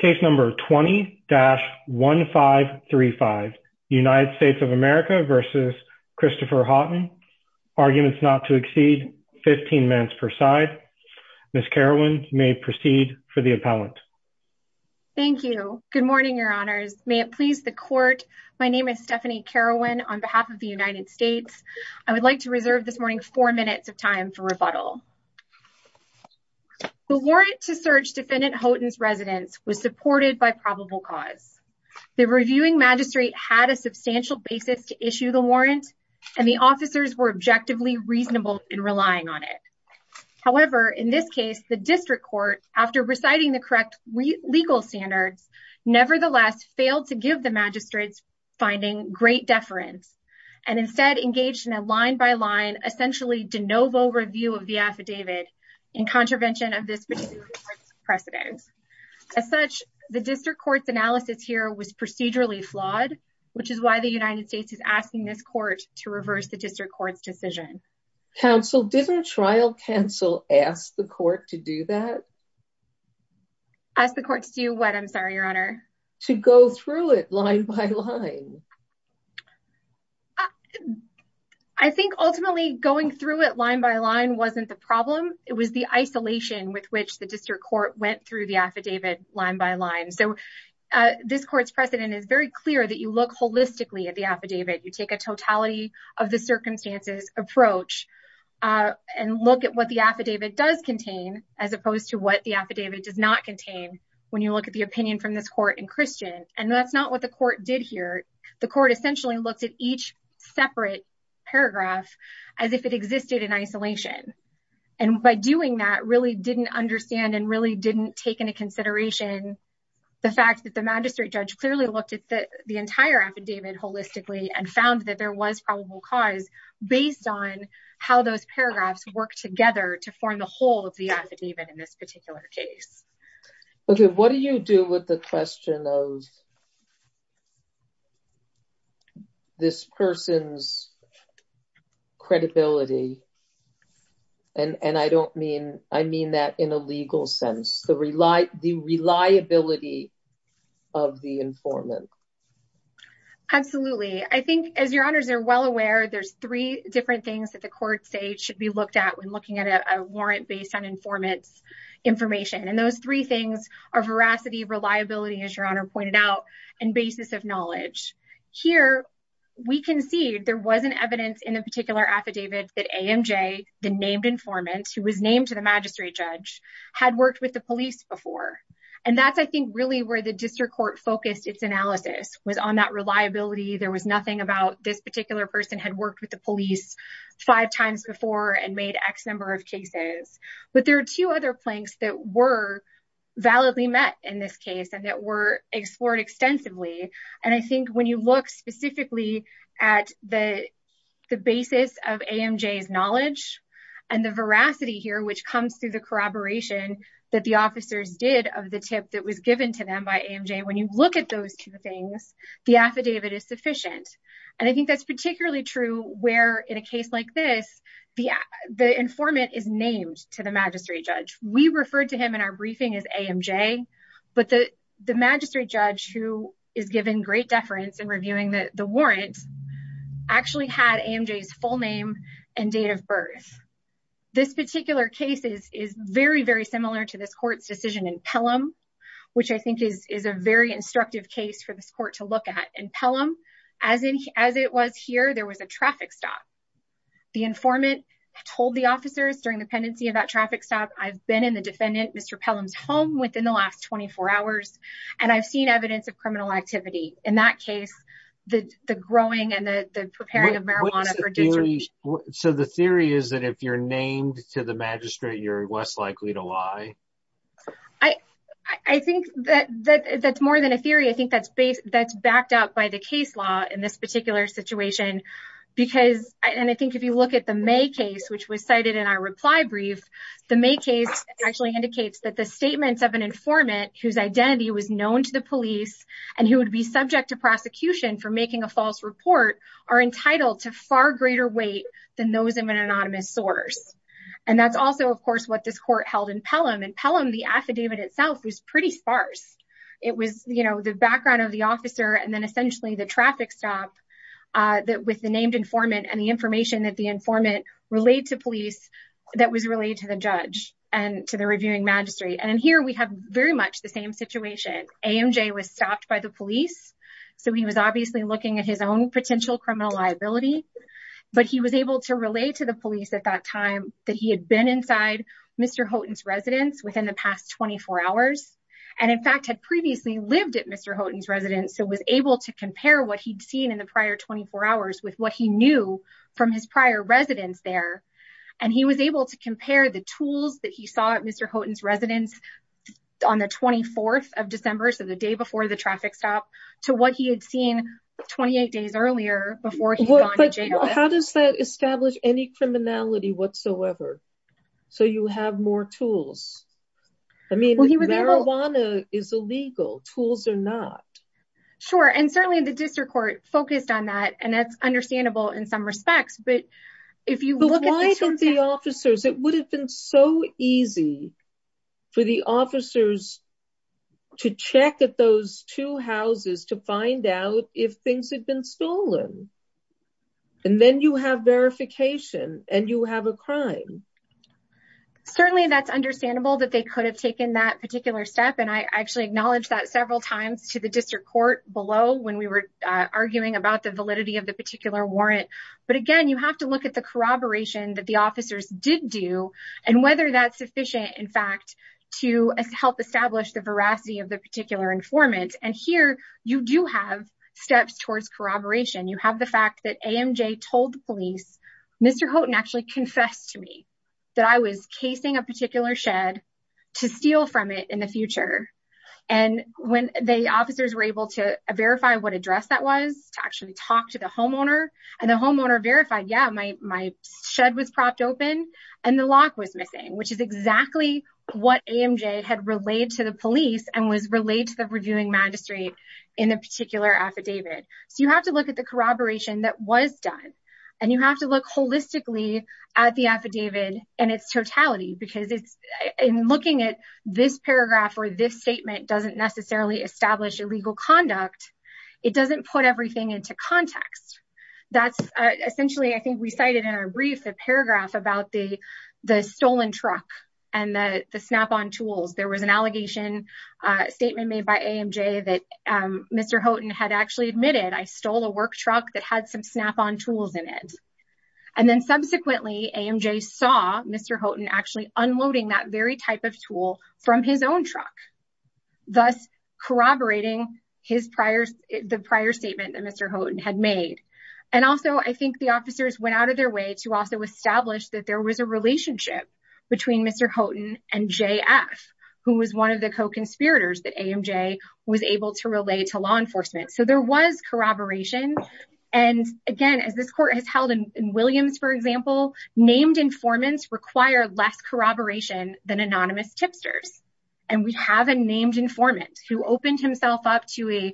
Case number 20-1535. United States of America v. Christopher Houghton. Arguments not to exceed 15 minutes per side. Ms. Carowyn, you may proceed for the appellant. Thank you. Good morning, your honors. May it please the court, my name is Stephanie Carowyn on behalf of the United States. I would like to reserve this morning four minutes of time for rebuttal. The warrant to search defendant Houghton's residence was supported by probable cause. The reviewing magistrate had a substantial basis to issue the warrant and the officers were objectively reasonable in relying on it. However, in this case, the district court, after reciting the correct legal standards, nevertheless failed to give the magistrates finding great deference and instead engaged in a line-by-line essentially de novo review of the affidavit in contravention of this particular precedent. As such, the district court's analysis here was procedurally flawed, which is why the United States is asking this court to reverse the district court's decision. Counsel, didn't trial counsel ask the court to do that? Ask the court to do what, I'm sorry, your honor? To go through it line by line. I think ultimately going through it line by line wasn't the problem. It was the isolation with which the district court went through the affidavit line by line. So this court's precedent is very clear that you look holistically at the affidavit. You take a totality of the circumstances approach and look at what the affidavit does contain as opposed to what the affidavit does not contain when you look at the opinion from this court in Christian. And that's not what the court did here. The court essentially looked at each separate paragraph as if it existed in isolation. And by doing that, really didn't understand and really didn't take into consideration the fact that the magistrate judge clearly looked at the entire affidavit holistically and found that there was probable cause based on how those paragraphs work together to form the whole of the affidavit in this particular case. Okay, what do you do with the question of this person's credibility? And I don't mean, I mean that in a legal sense, the reliability of the informant. Absolutely. I think as your honors are well aware, there's three different things that the court say should be looked at when looking at a warrant based on informant's information. And those three things are veracity, reliability, as your honor pointed out, and basis of knowledge. Here, we can see there wasn't evidence in a particular affidavit that AMJ, the named informant who was named to the magistrate judge, had worked with the police before. And that's, I think, really where the district court focused its analysis was on that reliability. There was nothing about this particular person had worked with the police five times before and made X number of cases. But there are two other planks that were explored extensively. And I think when you look specifically at the basis of AMJ's knowledge and the veracity here, which comes through the corroboration that the officers did of the tip that was given to them by AMJ, when you look at those two things, the affidavit is sufficient. And I think that's particularly true where in a case like this, the informant is named to the magistrate judge who is given great deference in reviewing the warrant, actually had AMJ's full name and date of birth. This particular case is very, very similar to this court's decision in Pelham, which I think is a very instructive case for this court to look at. In Pelham, as it was here, there was a traffic stop. The informant told the officers during the pendency of that traffic stop, I've been in the defendant, Mr. Pelham's home within the last 24 hours. And I've seen evidence of criminal activity. In that case, the growing and the preparing of marijuana for disrepute. So the theory is that if you're named to the magistrate, you're less likely to lie? I think that that's more than a theory. I think that's backed up by the case law in this particular situation. And I think if you look at the May case, which was cited in our reply brief, the May case actually indicates that the statements of an identity was known to the police, and he would be subject to prosecution for making a false report are entitled to far greater weight than those of an anonymous source. And that's also, of course, what this court held in Pelham. In Pelham, the affidavit itself was pretty sparse. It was, you know, the background of the officer and then essentially the traffic stop with the named informant and the information that the informant relayed to police that was relayed to the judge and to the reviewing magistrate. And here we have very much the same situation. AMJ was stopped by the police. So he was obviously looking at his own potential criminal liability. But he was able to relay to the police at that time that he had been inside Mr. Houghton's residence within the past 24 hours, and in fact, had previously lived at Mr. Houghton's residence, so was able to compare what he'd seen in the prior 24 hours with what he knew from his prior residence there. And he was able to compare the tools that he saw at Mr. Houghton's residence on the 24th of December, so the day before the traffic stop, to what he had seen 28 days earlier before he had gone to jail. But how does that establish any criminality whatsoever? So you have more tools? I mean, marijuana is illegal. Tools are not. Sure. And certainly the district court focused on that. And that's understandable in some respects. If you look at the officers, it would have been so easy for the officers to check at those two houses to find out if things had been stolen. And then you have verification and you have a crime. Certainly that's understandable that they could have taken that particular step. And I actually acknowledged that several times to the district court below when we were arguing about the validity of the particular warrant. But again, you have to look at the corroboration that the officers did do and whether that's sufficient, in fact, to help establish the veracity of the particular informant. And here you do have steps towards corroboration. You have the fact that AMJ told the police, Mr. Houghton actually confessed to me that I was casing a particular shed to steal from it in the future. And when the officers were able to verify what address that to actually talk to the homeowner and the homeowner verified, yeah, my shed was propped open and the lock was missing, which is exactly what AMJ had relayed to the police and was relayed to the reviewing magistrate in the particular affidavit. So you have to look at the corroboration that was done and you have to look holistically at the affidavit in its totality because it's in looking at this paragraph or this statement doesn't necessarily establish illegal conduct. It doesn't put everything into context. That's essentially, I think, recited in a brief paragraph about the stolen truck and the snap-on tools. There was an allegation statement made by AMJ that Mr. Houghton had actually admitted I stole a work truck that had some snap-on tools in it. And then subsequently, AMJ saw Mr. Houghton actually unloading that very type of tool from his own truck, thus corroborating the prior statement that Mr. Houghton had made. And also, I think the officers went out of their way to also establish that there was a relationship between Mr. Houghton and JF, who was one of the co-conspirators that AMJ was able to relay to law enforcement. So there was corroboration. And again, as this court has held in Williams, for example, named informants require less corroboration than anonymous tipsters. And we have a named informant who opened himself up to a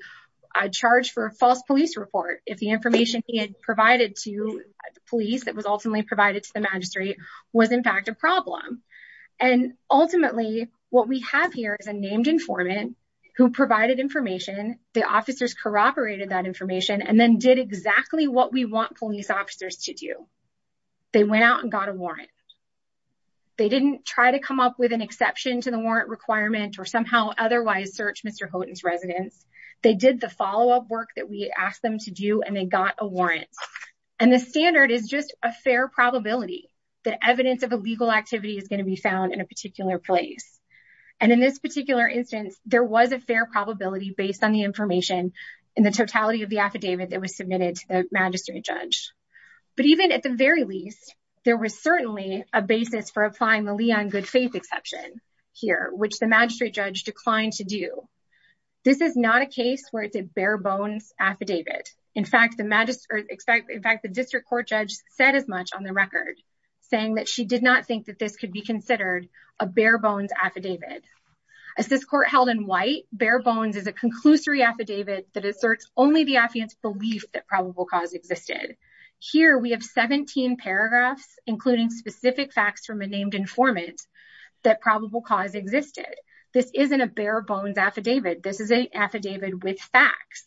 charge for a false police report if the information he had provided to the police that was ultimately provided to the magistrate was, in fact, a problem. And ultimately, what we have here is a named informant who provided information, the officers corroborated that information, and then did exactly what we want police officers to They went out and got a warrant. They didn't try to come up with an exception to the warrant requirement or somehow otherwise search Mr. Houghton's residence. They did the follow-up work that we asked them to do, and they got a warrant. And the standard is just a fair probability that evidence of illegal activity is going to be found in a particular place. And in this particular instance, there was a fair probability based on the information in the totality of the affidavit that was submitted to the magistrate judge. But even at the very least, there was certainly a basis for applying the liaison good faith exception here, which the magistrate judge declined to do. This is not a case where it's a bare bones affidavit. In fact, the district court judge said as much on the record, saying that she did not think that this could be considered a bare bones affidavit. As this court held in white, bare bones is a conclusory affidavit that asserts only the affidavit's belief that probable cause existed. Here we have 17 paragraphs, including specific facts from a named informant, that probable cause existed. This isn't a bare bones affidavit. This is an affidavit with facts.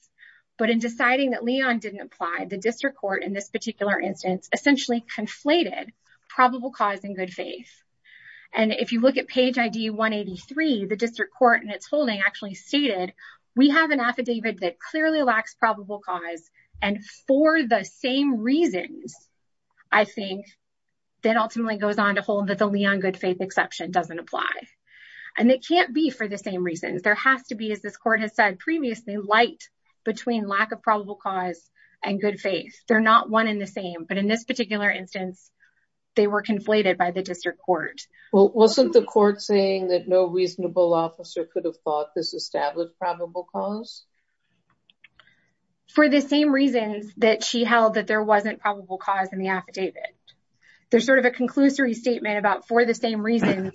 But in deciding that Leon didn't apply, the district court in this particular instance essentially conflated probable cause and good faith. And if you look at page ID 183, the district court in its holding actually stated, we have an affidavit that clearly lacks probable cause. And for the same reasons, I think that ultimately goes on to hold that the Leon good faith exception doesn't apply. And it can't be for the same reasons. There has to be, as this court has said previously, light between lack of probable cause and good faith. They're not one in the same. But in this particular instance, they were conflated by the district court. Well, wasn't the court saying that no cause? For the same reasons that she held that there wasn't probable cause in the affidavit. There's sort of a conclusory statement about for the same reasons,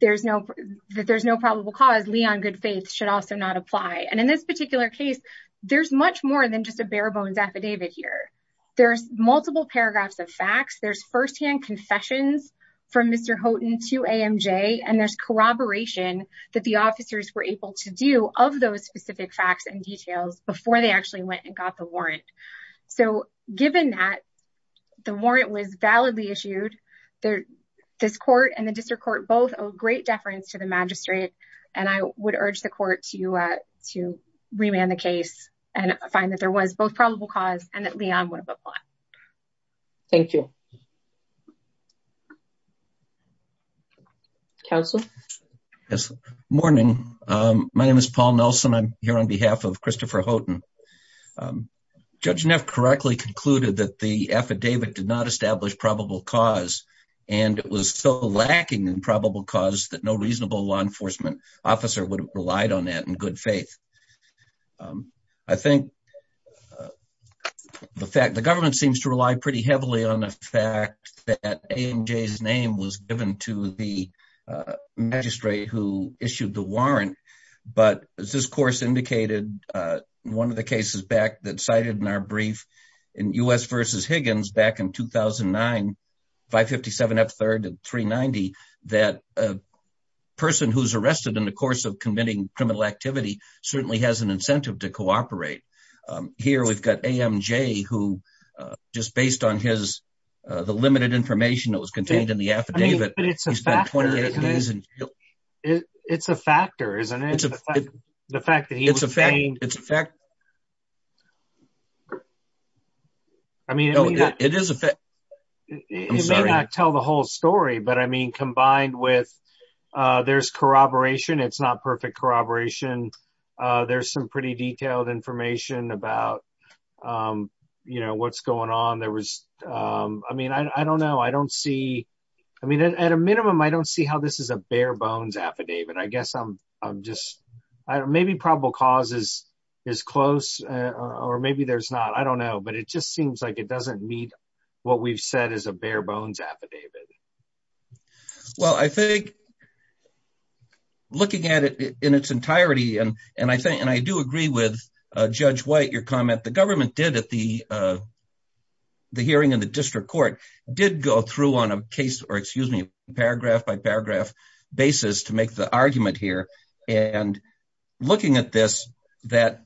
there's no, that there's no probable cause. Leon good faith should also not apply. And in this particular case, there's much more than just a bare bones affidavit here. There's multiple paragraphs of facts. There's firsthand confessions from Mr. Houghton to AMJ. And there's corroboration that the officers were able to do of those specific facts and details before they actually went and got the warrant. So given that the warrant was validly issued, this court and the district court both owe great deference to the magistrate. And I would urge the court to remand the case and find that there was both probable cause and that Leon would apply. Thank you. Counsel. Yes. Morning. My name is Paul Nelson. I'm here on behalf of Christopher Houghton. Judge Neff correctly concluded that the affidavit did not establish probable cause, and it was so lacking in probable cause that no reasonable law enforcement officer would have relied on that in good faith. I think the fact the government seems to rely pretty heavily on the fact that AMJ's name was given to the magistrate who issued the warrant. But as this course indicated, one of the cases back that cited in our brief in U.S. versus Higgins back in 2009, 557 F3rd and 390, that a person who's arrested in the course of committing criminal activity certainly has an incentive to cooperate. Here we've got AMJ who just based on the limited information that was contained in the affidavit. It's a factor, isn't it? The fact that he was saying. It's a fact. I mean, it is a fact. It may not tell the whole story, but I mean, combined with there's corroboration. It's not perfect corroboration. There's some pretty detailed information about what's going on. There was, I mean, I don't know. I don't see, I mean, at a minimum, I don't see how this is a bare bones affidavit. I guess I'm just, maybe probable cause is close or maybe there's not. I don't know. But it just seems like it looking at it in its entirety. And I think, and I do agree with Judge White, your comment, the government did at the hearing in the district court did go through on a case or excuse me, paragraph by paragraph basis to make the argument here. And looking at this, that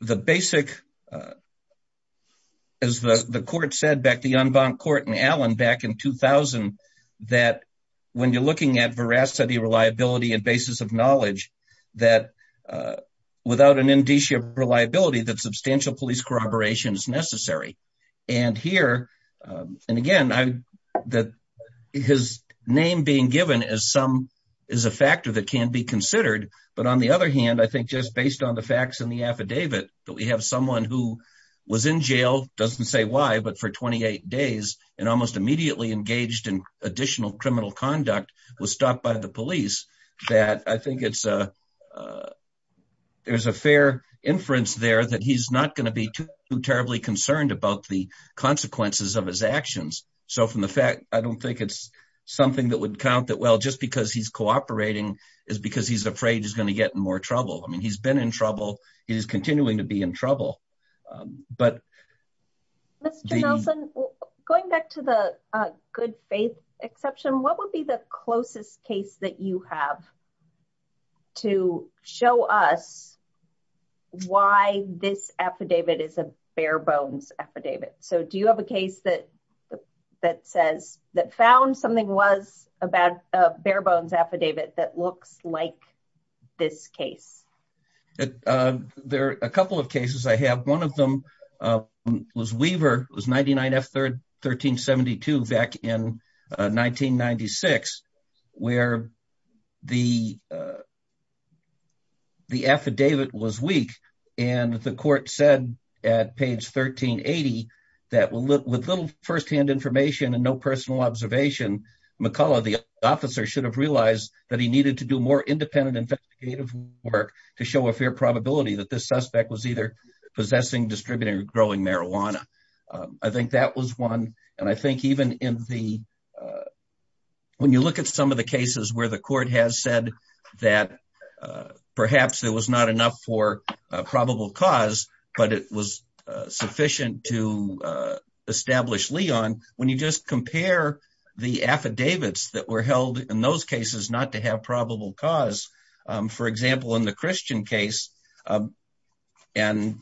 the basic, as the court said back to the unbound court in Allen back in 2000, that when you're looking at veracity, reliability, and basis of knowledge that without an indicia of reliability, that substantial police corroboration is necessary. And here, and again, his name being given as some is a factor that can be considered. But on the other hand, I think just based on the facts in the affidavit that we have someone who was in jail, doesn't say why, but for 28 days and almost immediately engaged in additional criminal conduct was stopped by the police, that I think it's a, there's a fair inference there that he's not going to be too terribly concerned about the consequences of his actions. So from the fact, I don't think it's something that would count that well, just because he's cooperating is because he's afraid he's going to get in more trouble. I mean, he's been in trouble. He's continuing to be in trouble. But going back to the good faith exception, what would be the closest case that you have to show us why this affidavit is a bare bones affidavit? So do you have a case that that says that found something was about a bare bones affidavit that looks like this case? There are a couple of cases I have. One of them was Weaver. It was 99 F 1372 back in 1996, where the affidavit was weak. And the court said at page 1380, that with little firsthand information and no personal observation, McCullough, the officer should have realized that he needed to do more independent investigative work to show a fair probability that this suspect was either possessing, distributing or growing marijuana. I think that was one. And I think even in the when you look at some of the cases where the court has said that perhaps there was not enough for probable cause, but it was sufficient to establish Leon, when you just compare the affidavits that were held in those cases not to have probable cause, for example, in the Christian case. And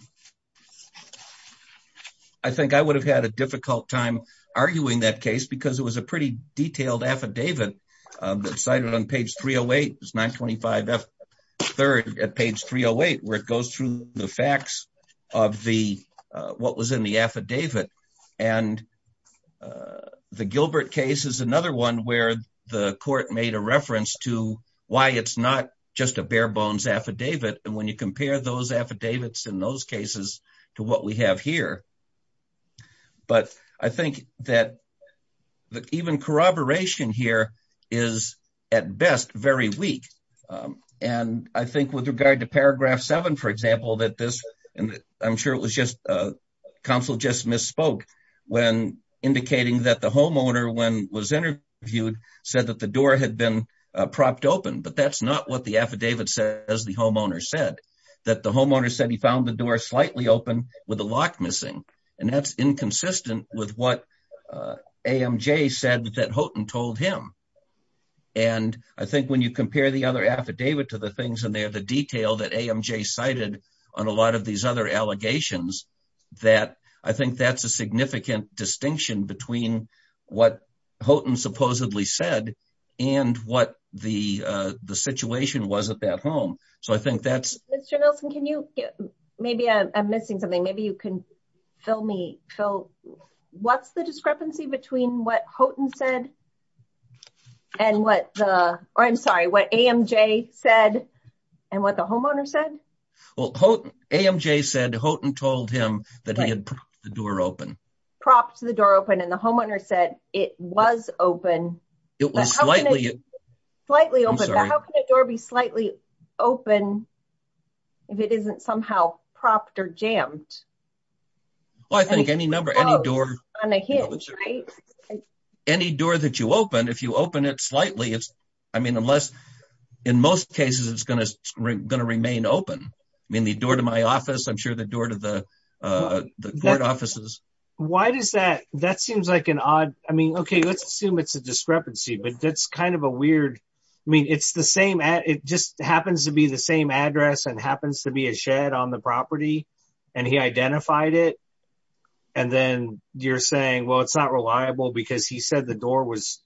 I think I would have had a difficult time arguing that case because it was a pretty detailed affidavit that cited on page 308 is 925 F, third at page 308, where it goes through the facts of the what was in the affidavit. And the Gilbert case is another one where the court made a reference to why it's not just a bare bones affidavit. And when you compare those affidavits in those cases to what we have here. But I think that even corroboration here is at best very weak. And I think with regard to paragraph seven, for example, that this and I'm sure it was just counsel just misspoke when indicating that the homeowner when was interviewed, said that the door had been propped open. But that's not what the affidavit says the homeowner said that the homeowner said he found the door slightly open with a lock missing. And that's inconsistent with what AMJ said that Houghton told him. And I think when you compare the other affidavit to the things in there, the detail that AMJ cited on a lot of these other allegations, that I think that's a significant distinction between what Houghton supposedly said, and what the situation was at that home. So I think that's Mr. Nelson, can you maybe I'm missing something, maybe you can fill me fill. What's the discrepancy between what Houghton said? And what the I'm sorry, what AMJ said? And what the homeowner said? Well, Houghton AMJ said Houghton told him that he had the door open, props, the door open, and the homeowner said it was open. It was slightly, slightly open. How can a door be slightly open? If it isn't somehow propped or jammed? Well, I think any number any door on a hinge, right? Any door that you open, if you open it slightly, it's, I mean, unless, in most cases, it's going to remain open. I mean, the door to my office, I'm sure the door to the court offices. Why does that that seems like an odd? I mean, it's kind of a weird, I mean, it's the same, it just happens to be the same address and happens to be a shed on the property. And he identified it. And then you're saying, well, it's not reliable, because he said the door was,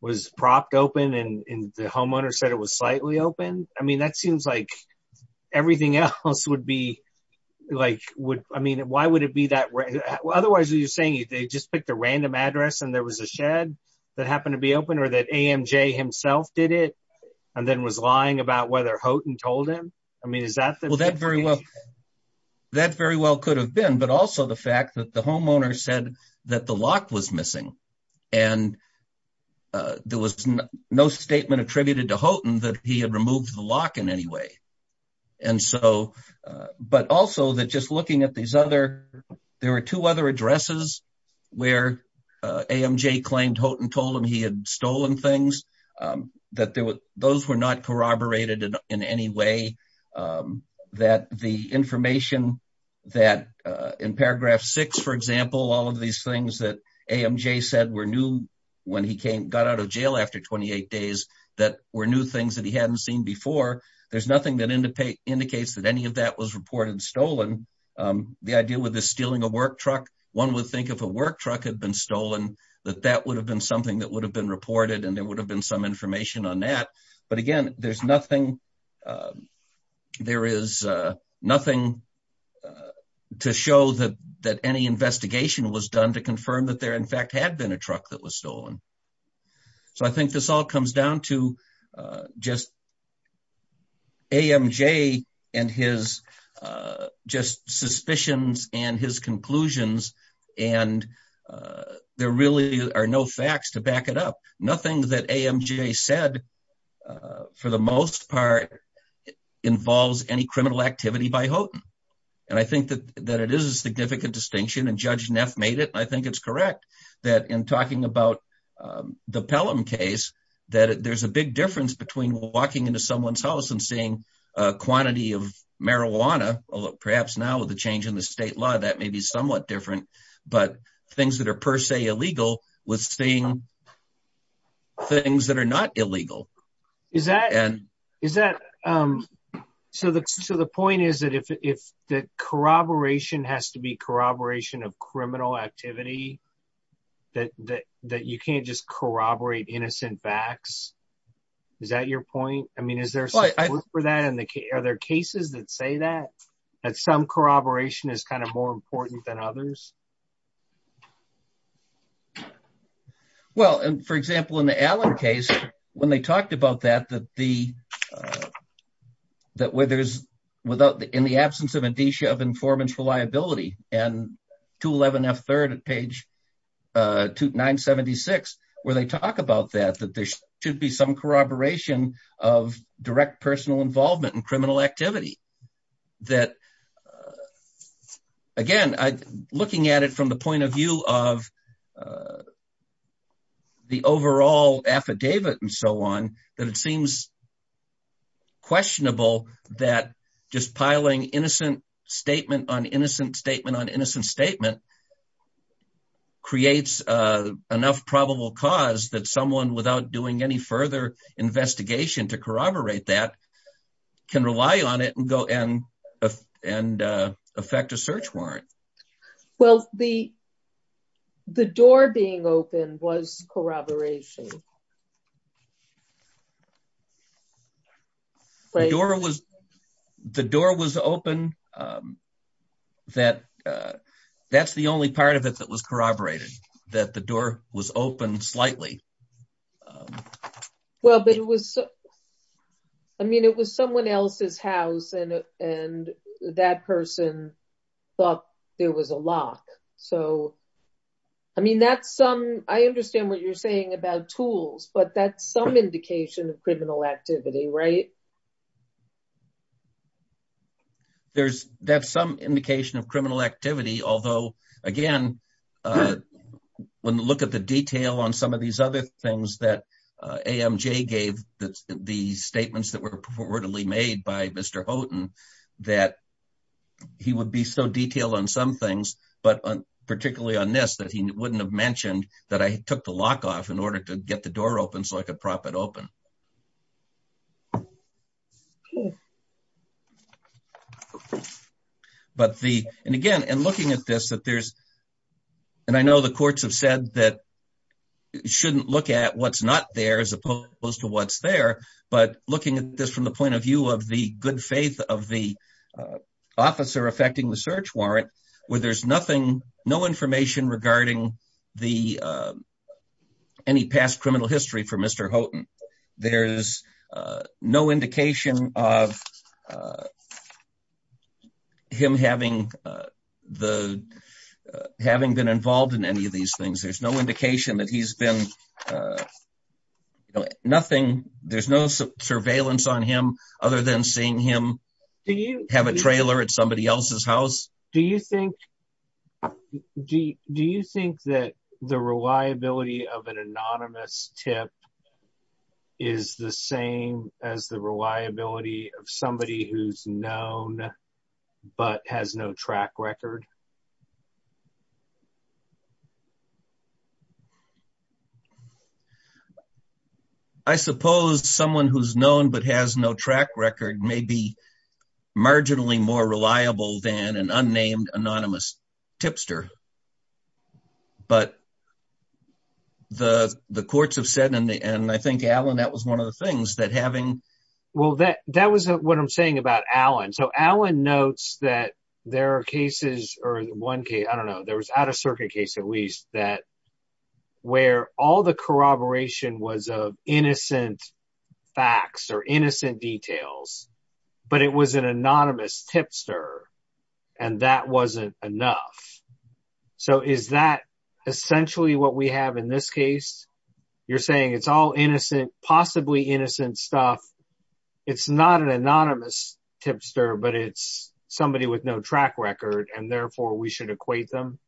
was propped open. And the homeowner said it was slightly open. I mean, that seems like everything else would be like, would I mean, why would it be that way? Otherwise, you're saying they just picked a random address, and there was a shed that happened to be open, or that AMJ himself did it, and then was lying about whether Houghton told him? I mean, is that that very well? That very well could have been but also the fact that the homeowner said that the lock was missing. And there was no statement attributed to Houghton that he had removed the lock in any way. And so but also that just looking at these other, there were two other addresses, where AMJ claimed Houghton told him he had stolen things that there were, those were not corroborated in any way. That the information that in paragraph six, for example, all of these things that AMJ said were new, when he came got out of jail after 28 days, that were new things that he hadn't seen before. There's nothing that indicates that any of that was reported stolen. The idea with the stealing a work truck, one would think if a work truck had been stolen, that that would have been something that would have been reported, and there would have been some information on that. But again, there's nothing, there is nothing to show that that any investigation was done to confirm that there in fact had been a truck that was stolen. So I think this all comes down to just AMJ and his just suspicions and his conclusions. And there really are no facts to back it up. Nothing that AMJ said, for the most part, involves any criminal activity by Houghton. And I think that that it is a significant distinction and Judge Neff made it, I think it's correct, that in talking about the Pelham case, that there's a big difference between walking into someone's house and seeing a quantity of marijuana, although perhaps now with the change in the state law, that may be somewhat different, but things that are per se illegal with seeing things that are not illegal. Is that, so the point is that if the corroboration has to be corroboration of criminal activity, that you can't just corroborate innocent facts? Is that your point? I mean, are there cases that say that, that some corroboration is kind of more important than others? Well, and for example, in the Allen case, when they talked about that, that the, that where there's without, in the absence of a disha of informants reliability and 211 F3rd at page 976, where they talk about that, that there should be some corroboration of direct personal involvement in criminal activity. That again, looking at it from the point of view of the overall affidavit and so on, that it seems questionable that just piling innocent statement on innocent statement on innocent statement creates enough probable cause that someone without doing any further investigation to corroborate that can rely on it and go and, and affect a search warrant. Well, the, the door being open was corroboration. The door was, the door was open. That, that's the only part of it that was corroborated, that the door was open slightly. Well, but it was, I mean, it was someone else's house and, and that person thought there was a lock. So, I mean, that's some, I understand what you're saying about tools, but that's some indication of criminal activity, right? There's, that's some indication of criminal activity, although, again, when you look at the detail on some of these other things that AMJ gave, the statements that were reportedly made by Mr. Houghton, that he would be so detailed on some things, but particularly on this, that he wouldn't have mentioned that I took the lock off in order to get the door open so I could prop it open. But the, and again, and looking at this, that there's, and I know the courts have said that you shouldn't look at what's not there as opposed to what's there, but looking at this from the point of view of the good faith of the officer affecting the search warrant, where there's no information regarding the, any past criminal history for Mr. Houghton. There's no indication of him having the, having been involved in any of these things. There's no indication that he's been, nothing, there's no surveillance on him other than seeing him have a trailer at somebody else's house. Do you think, do you think that the reliability of an anonymous tip is the same as the reliability of somebody who's known but has no track record? I suppose someone who's known but has no track record may be an unnamed, anonymous tipster. But the courts have said, and I think, Alan, that was one of the things, that having- Well, that was what I'm saying about Alan. So Alan notes that there are cases, or one case, I don't know, there was an out-of-circuit case at least, that where all the corroboration was of innocent facts or innocent details, but it was an anonymous tipster and that wasn't enough. So is that essentially what we have in this case? You're saying it's all innocent, possibly innocent stuff, it's not an anonymous tipster, but it's somebody with no track record and therefore we should equate them?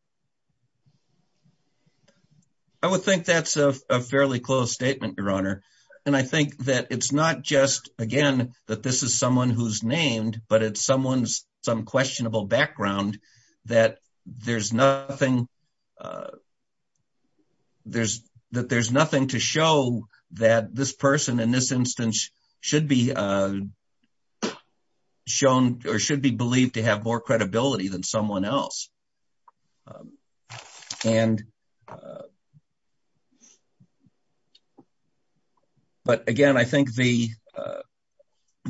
I would think that's a fairly close statement, Your Honor. And I think that it's not just, again, that this is someone who's named, but it's someone's, some questionable background, that there's nothing to show that this person in this instance should be shown or should be believed to have more credibility than someone else. But again, I think the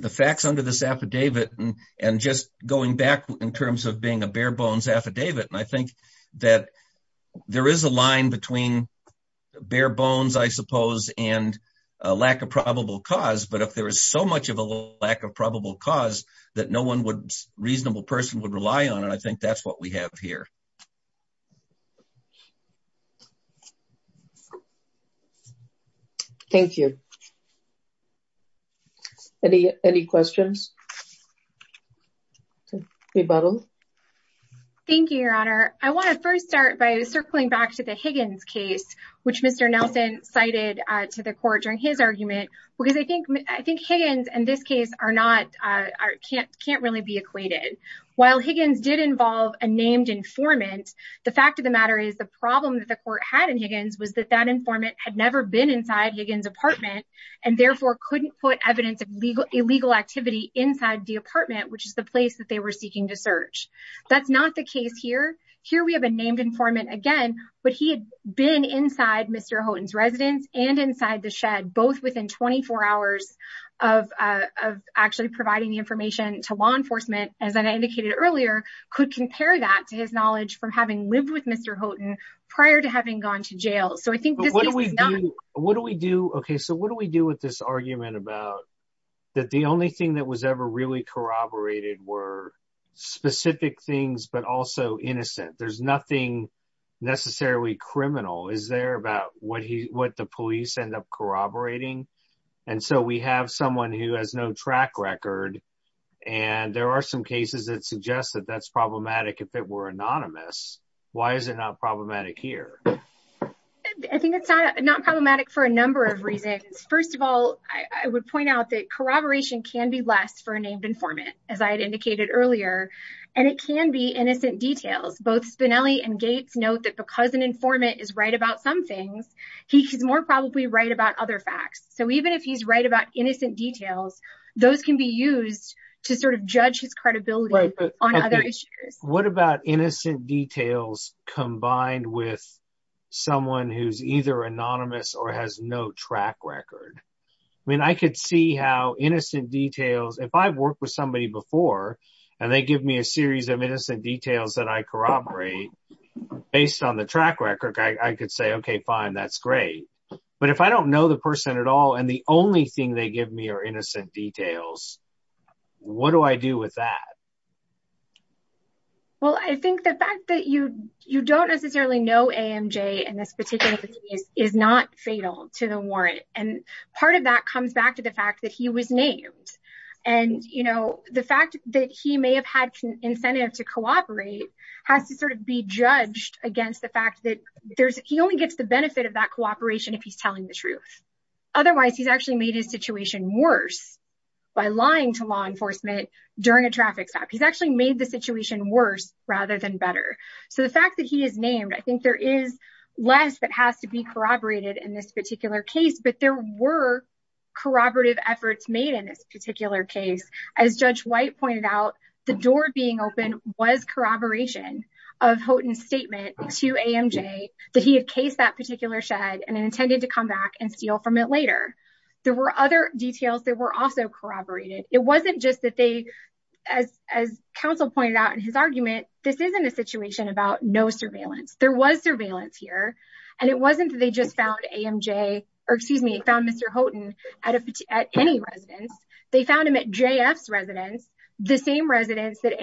facts under this affidavit and just going back in terms of being a bare bones affidavit, and I think that there is a line between bare bones, I suppose, and a lack of probable cause, but if there is so much of a lack of probable cause that no one reasonable person would rely on, and I think that's what we have here. Thank you. Any questions? Thank you, Your Honor. I want to first start by circling back to the Higgins case, which Mr. Nelson cited to the court during his argument, because I think Higgins and this case can't really be equated. While Higgins did involve a named informant, the fact of the matter is the problem that the court had in Higgins was that that informant had never been inside Higgins' apartment and therefore couldn't put evidence of illegal activity inside the apartment, which is the place that they were seeking to search. That's not the case here. Here we have a named informant again, but he had been inside Mr. Houghton's residence and inside the shed, both within 24 hours of actually providing the information to law enforcement, as I indicated earlier, could compare that to his knowledge from having lived with Mr. Houghton prior to having gone to jail. So I think this case is not... What do we do with this argument about that the only thing that was ever really corroborated were specific things, but also and so we have someone who has no track record and there are some cases that suggest that that's problematic if it were anonymous. Why is it not problematic here? I think it's not problematic for a number of reasons. First of all, I would point out that corroboration can be less for a named informant, as I had indicated earlier, and it can be innocent details. Both Spinelli and Gates note that because an informant is right about some things, he's more probably right about other facts. So even if he's right about innocent details, those can be used to sort of judge his credibility on other issues. What about innocent details combined with someone who's either anonymous or has no track record? I mean, I could see how innocent details... If I've worked with somebody before and they give me a series of innocent details that I corroborate based on track record, I could say, okay, fine, that's great. But if I don't know the person at all, and the only thing they give me are innocent details, what do I do with that? Well, I think the fact that you don't necessarily know AMJ in this particular case is not fatal to the warrant, and part of that comes back to the fact that he was named. And, you know, the fact that he may have had incentive to cooperate has to sort of be judged against the fact that he only gets the benefit of that cooperation if he's telling the truth. Otherwise, he's actually made his situation worse by lying to law enforcement during a traffic stop. He's actually made the situation worse rather than better. So the fact that he is named, I think there is less that has to be corroborated in this particular case, but there were corroborative efforts made in this particular case. As Judge White pointed out, the door being open was corroboration of Houghton's statement to AMJ that he had cased that particular shed and intended to come back and steal from it later. There were other details that were also corroborated. It wasn't just that they, as counsel pointed out in his argument, this isn't a situation about no surveillance. There was surveillance here, and it wasn't that they just found AMJ, or excuse me, found Mr. Houghton at any residence. They found him at JF's residence, the same residence that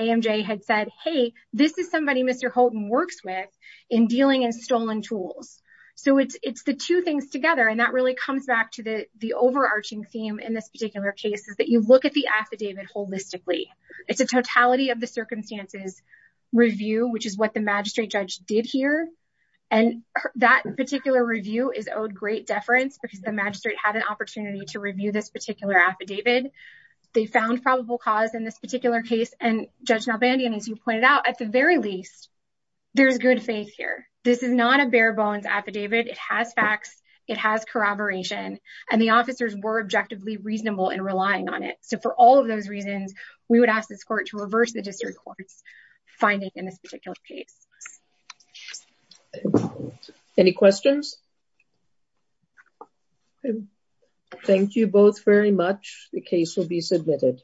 this is somebody Mr. Houghton works with in dealing in stolen tools. So it's the two things together, and that really comes back to the overarching theme in this particular case, is that you look at the affidavit holistically. It's a totality of the circumstances review, which is what the magistrate judge did here, and that particular review is owed great deference because the magistrate had an opportunity to review this particular affidavit. They found the very least, there's good faith here. This is not a bare bones affidavit. It has facts. It has corroboration, and the officers were objectively reasonable in relying on it. So for all of those reasons, we would ask this court to reverse the district court's finding in this particular case. Any questions? Thank you both very much. The case will be submitted.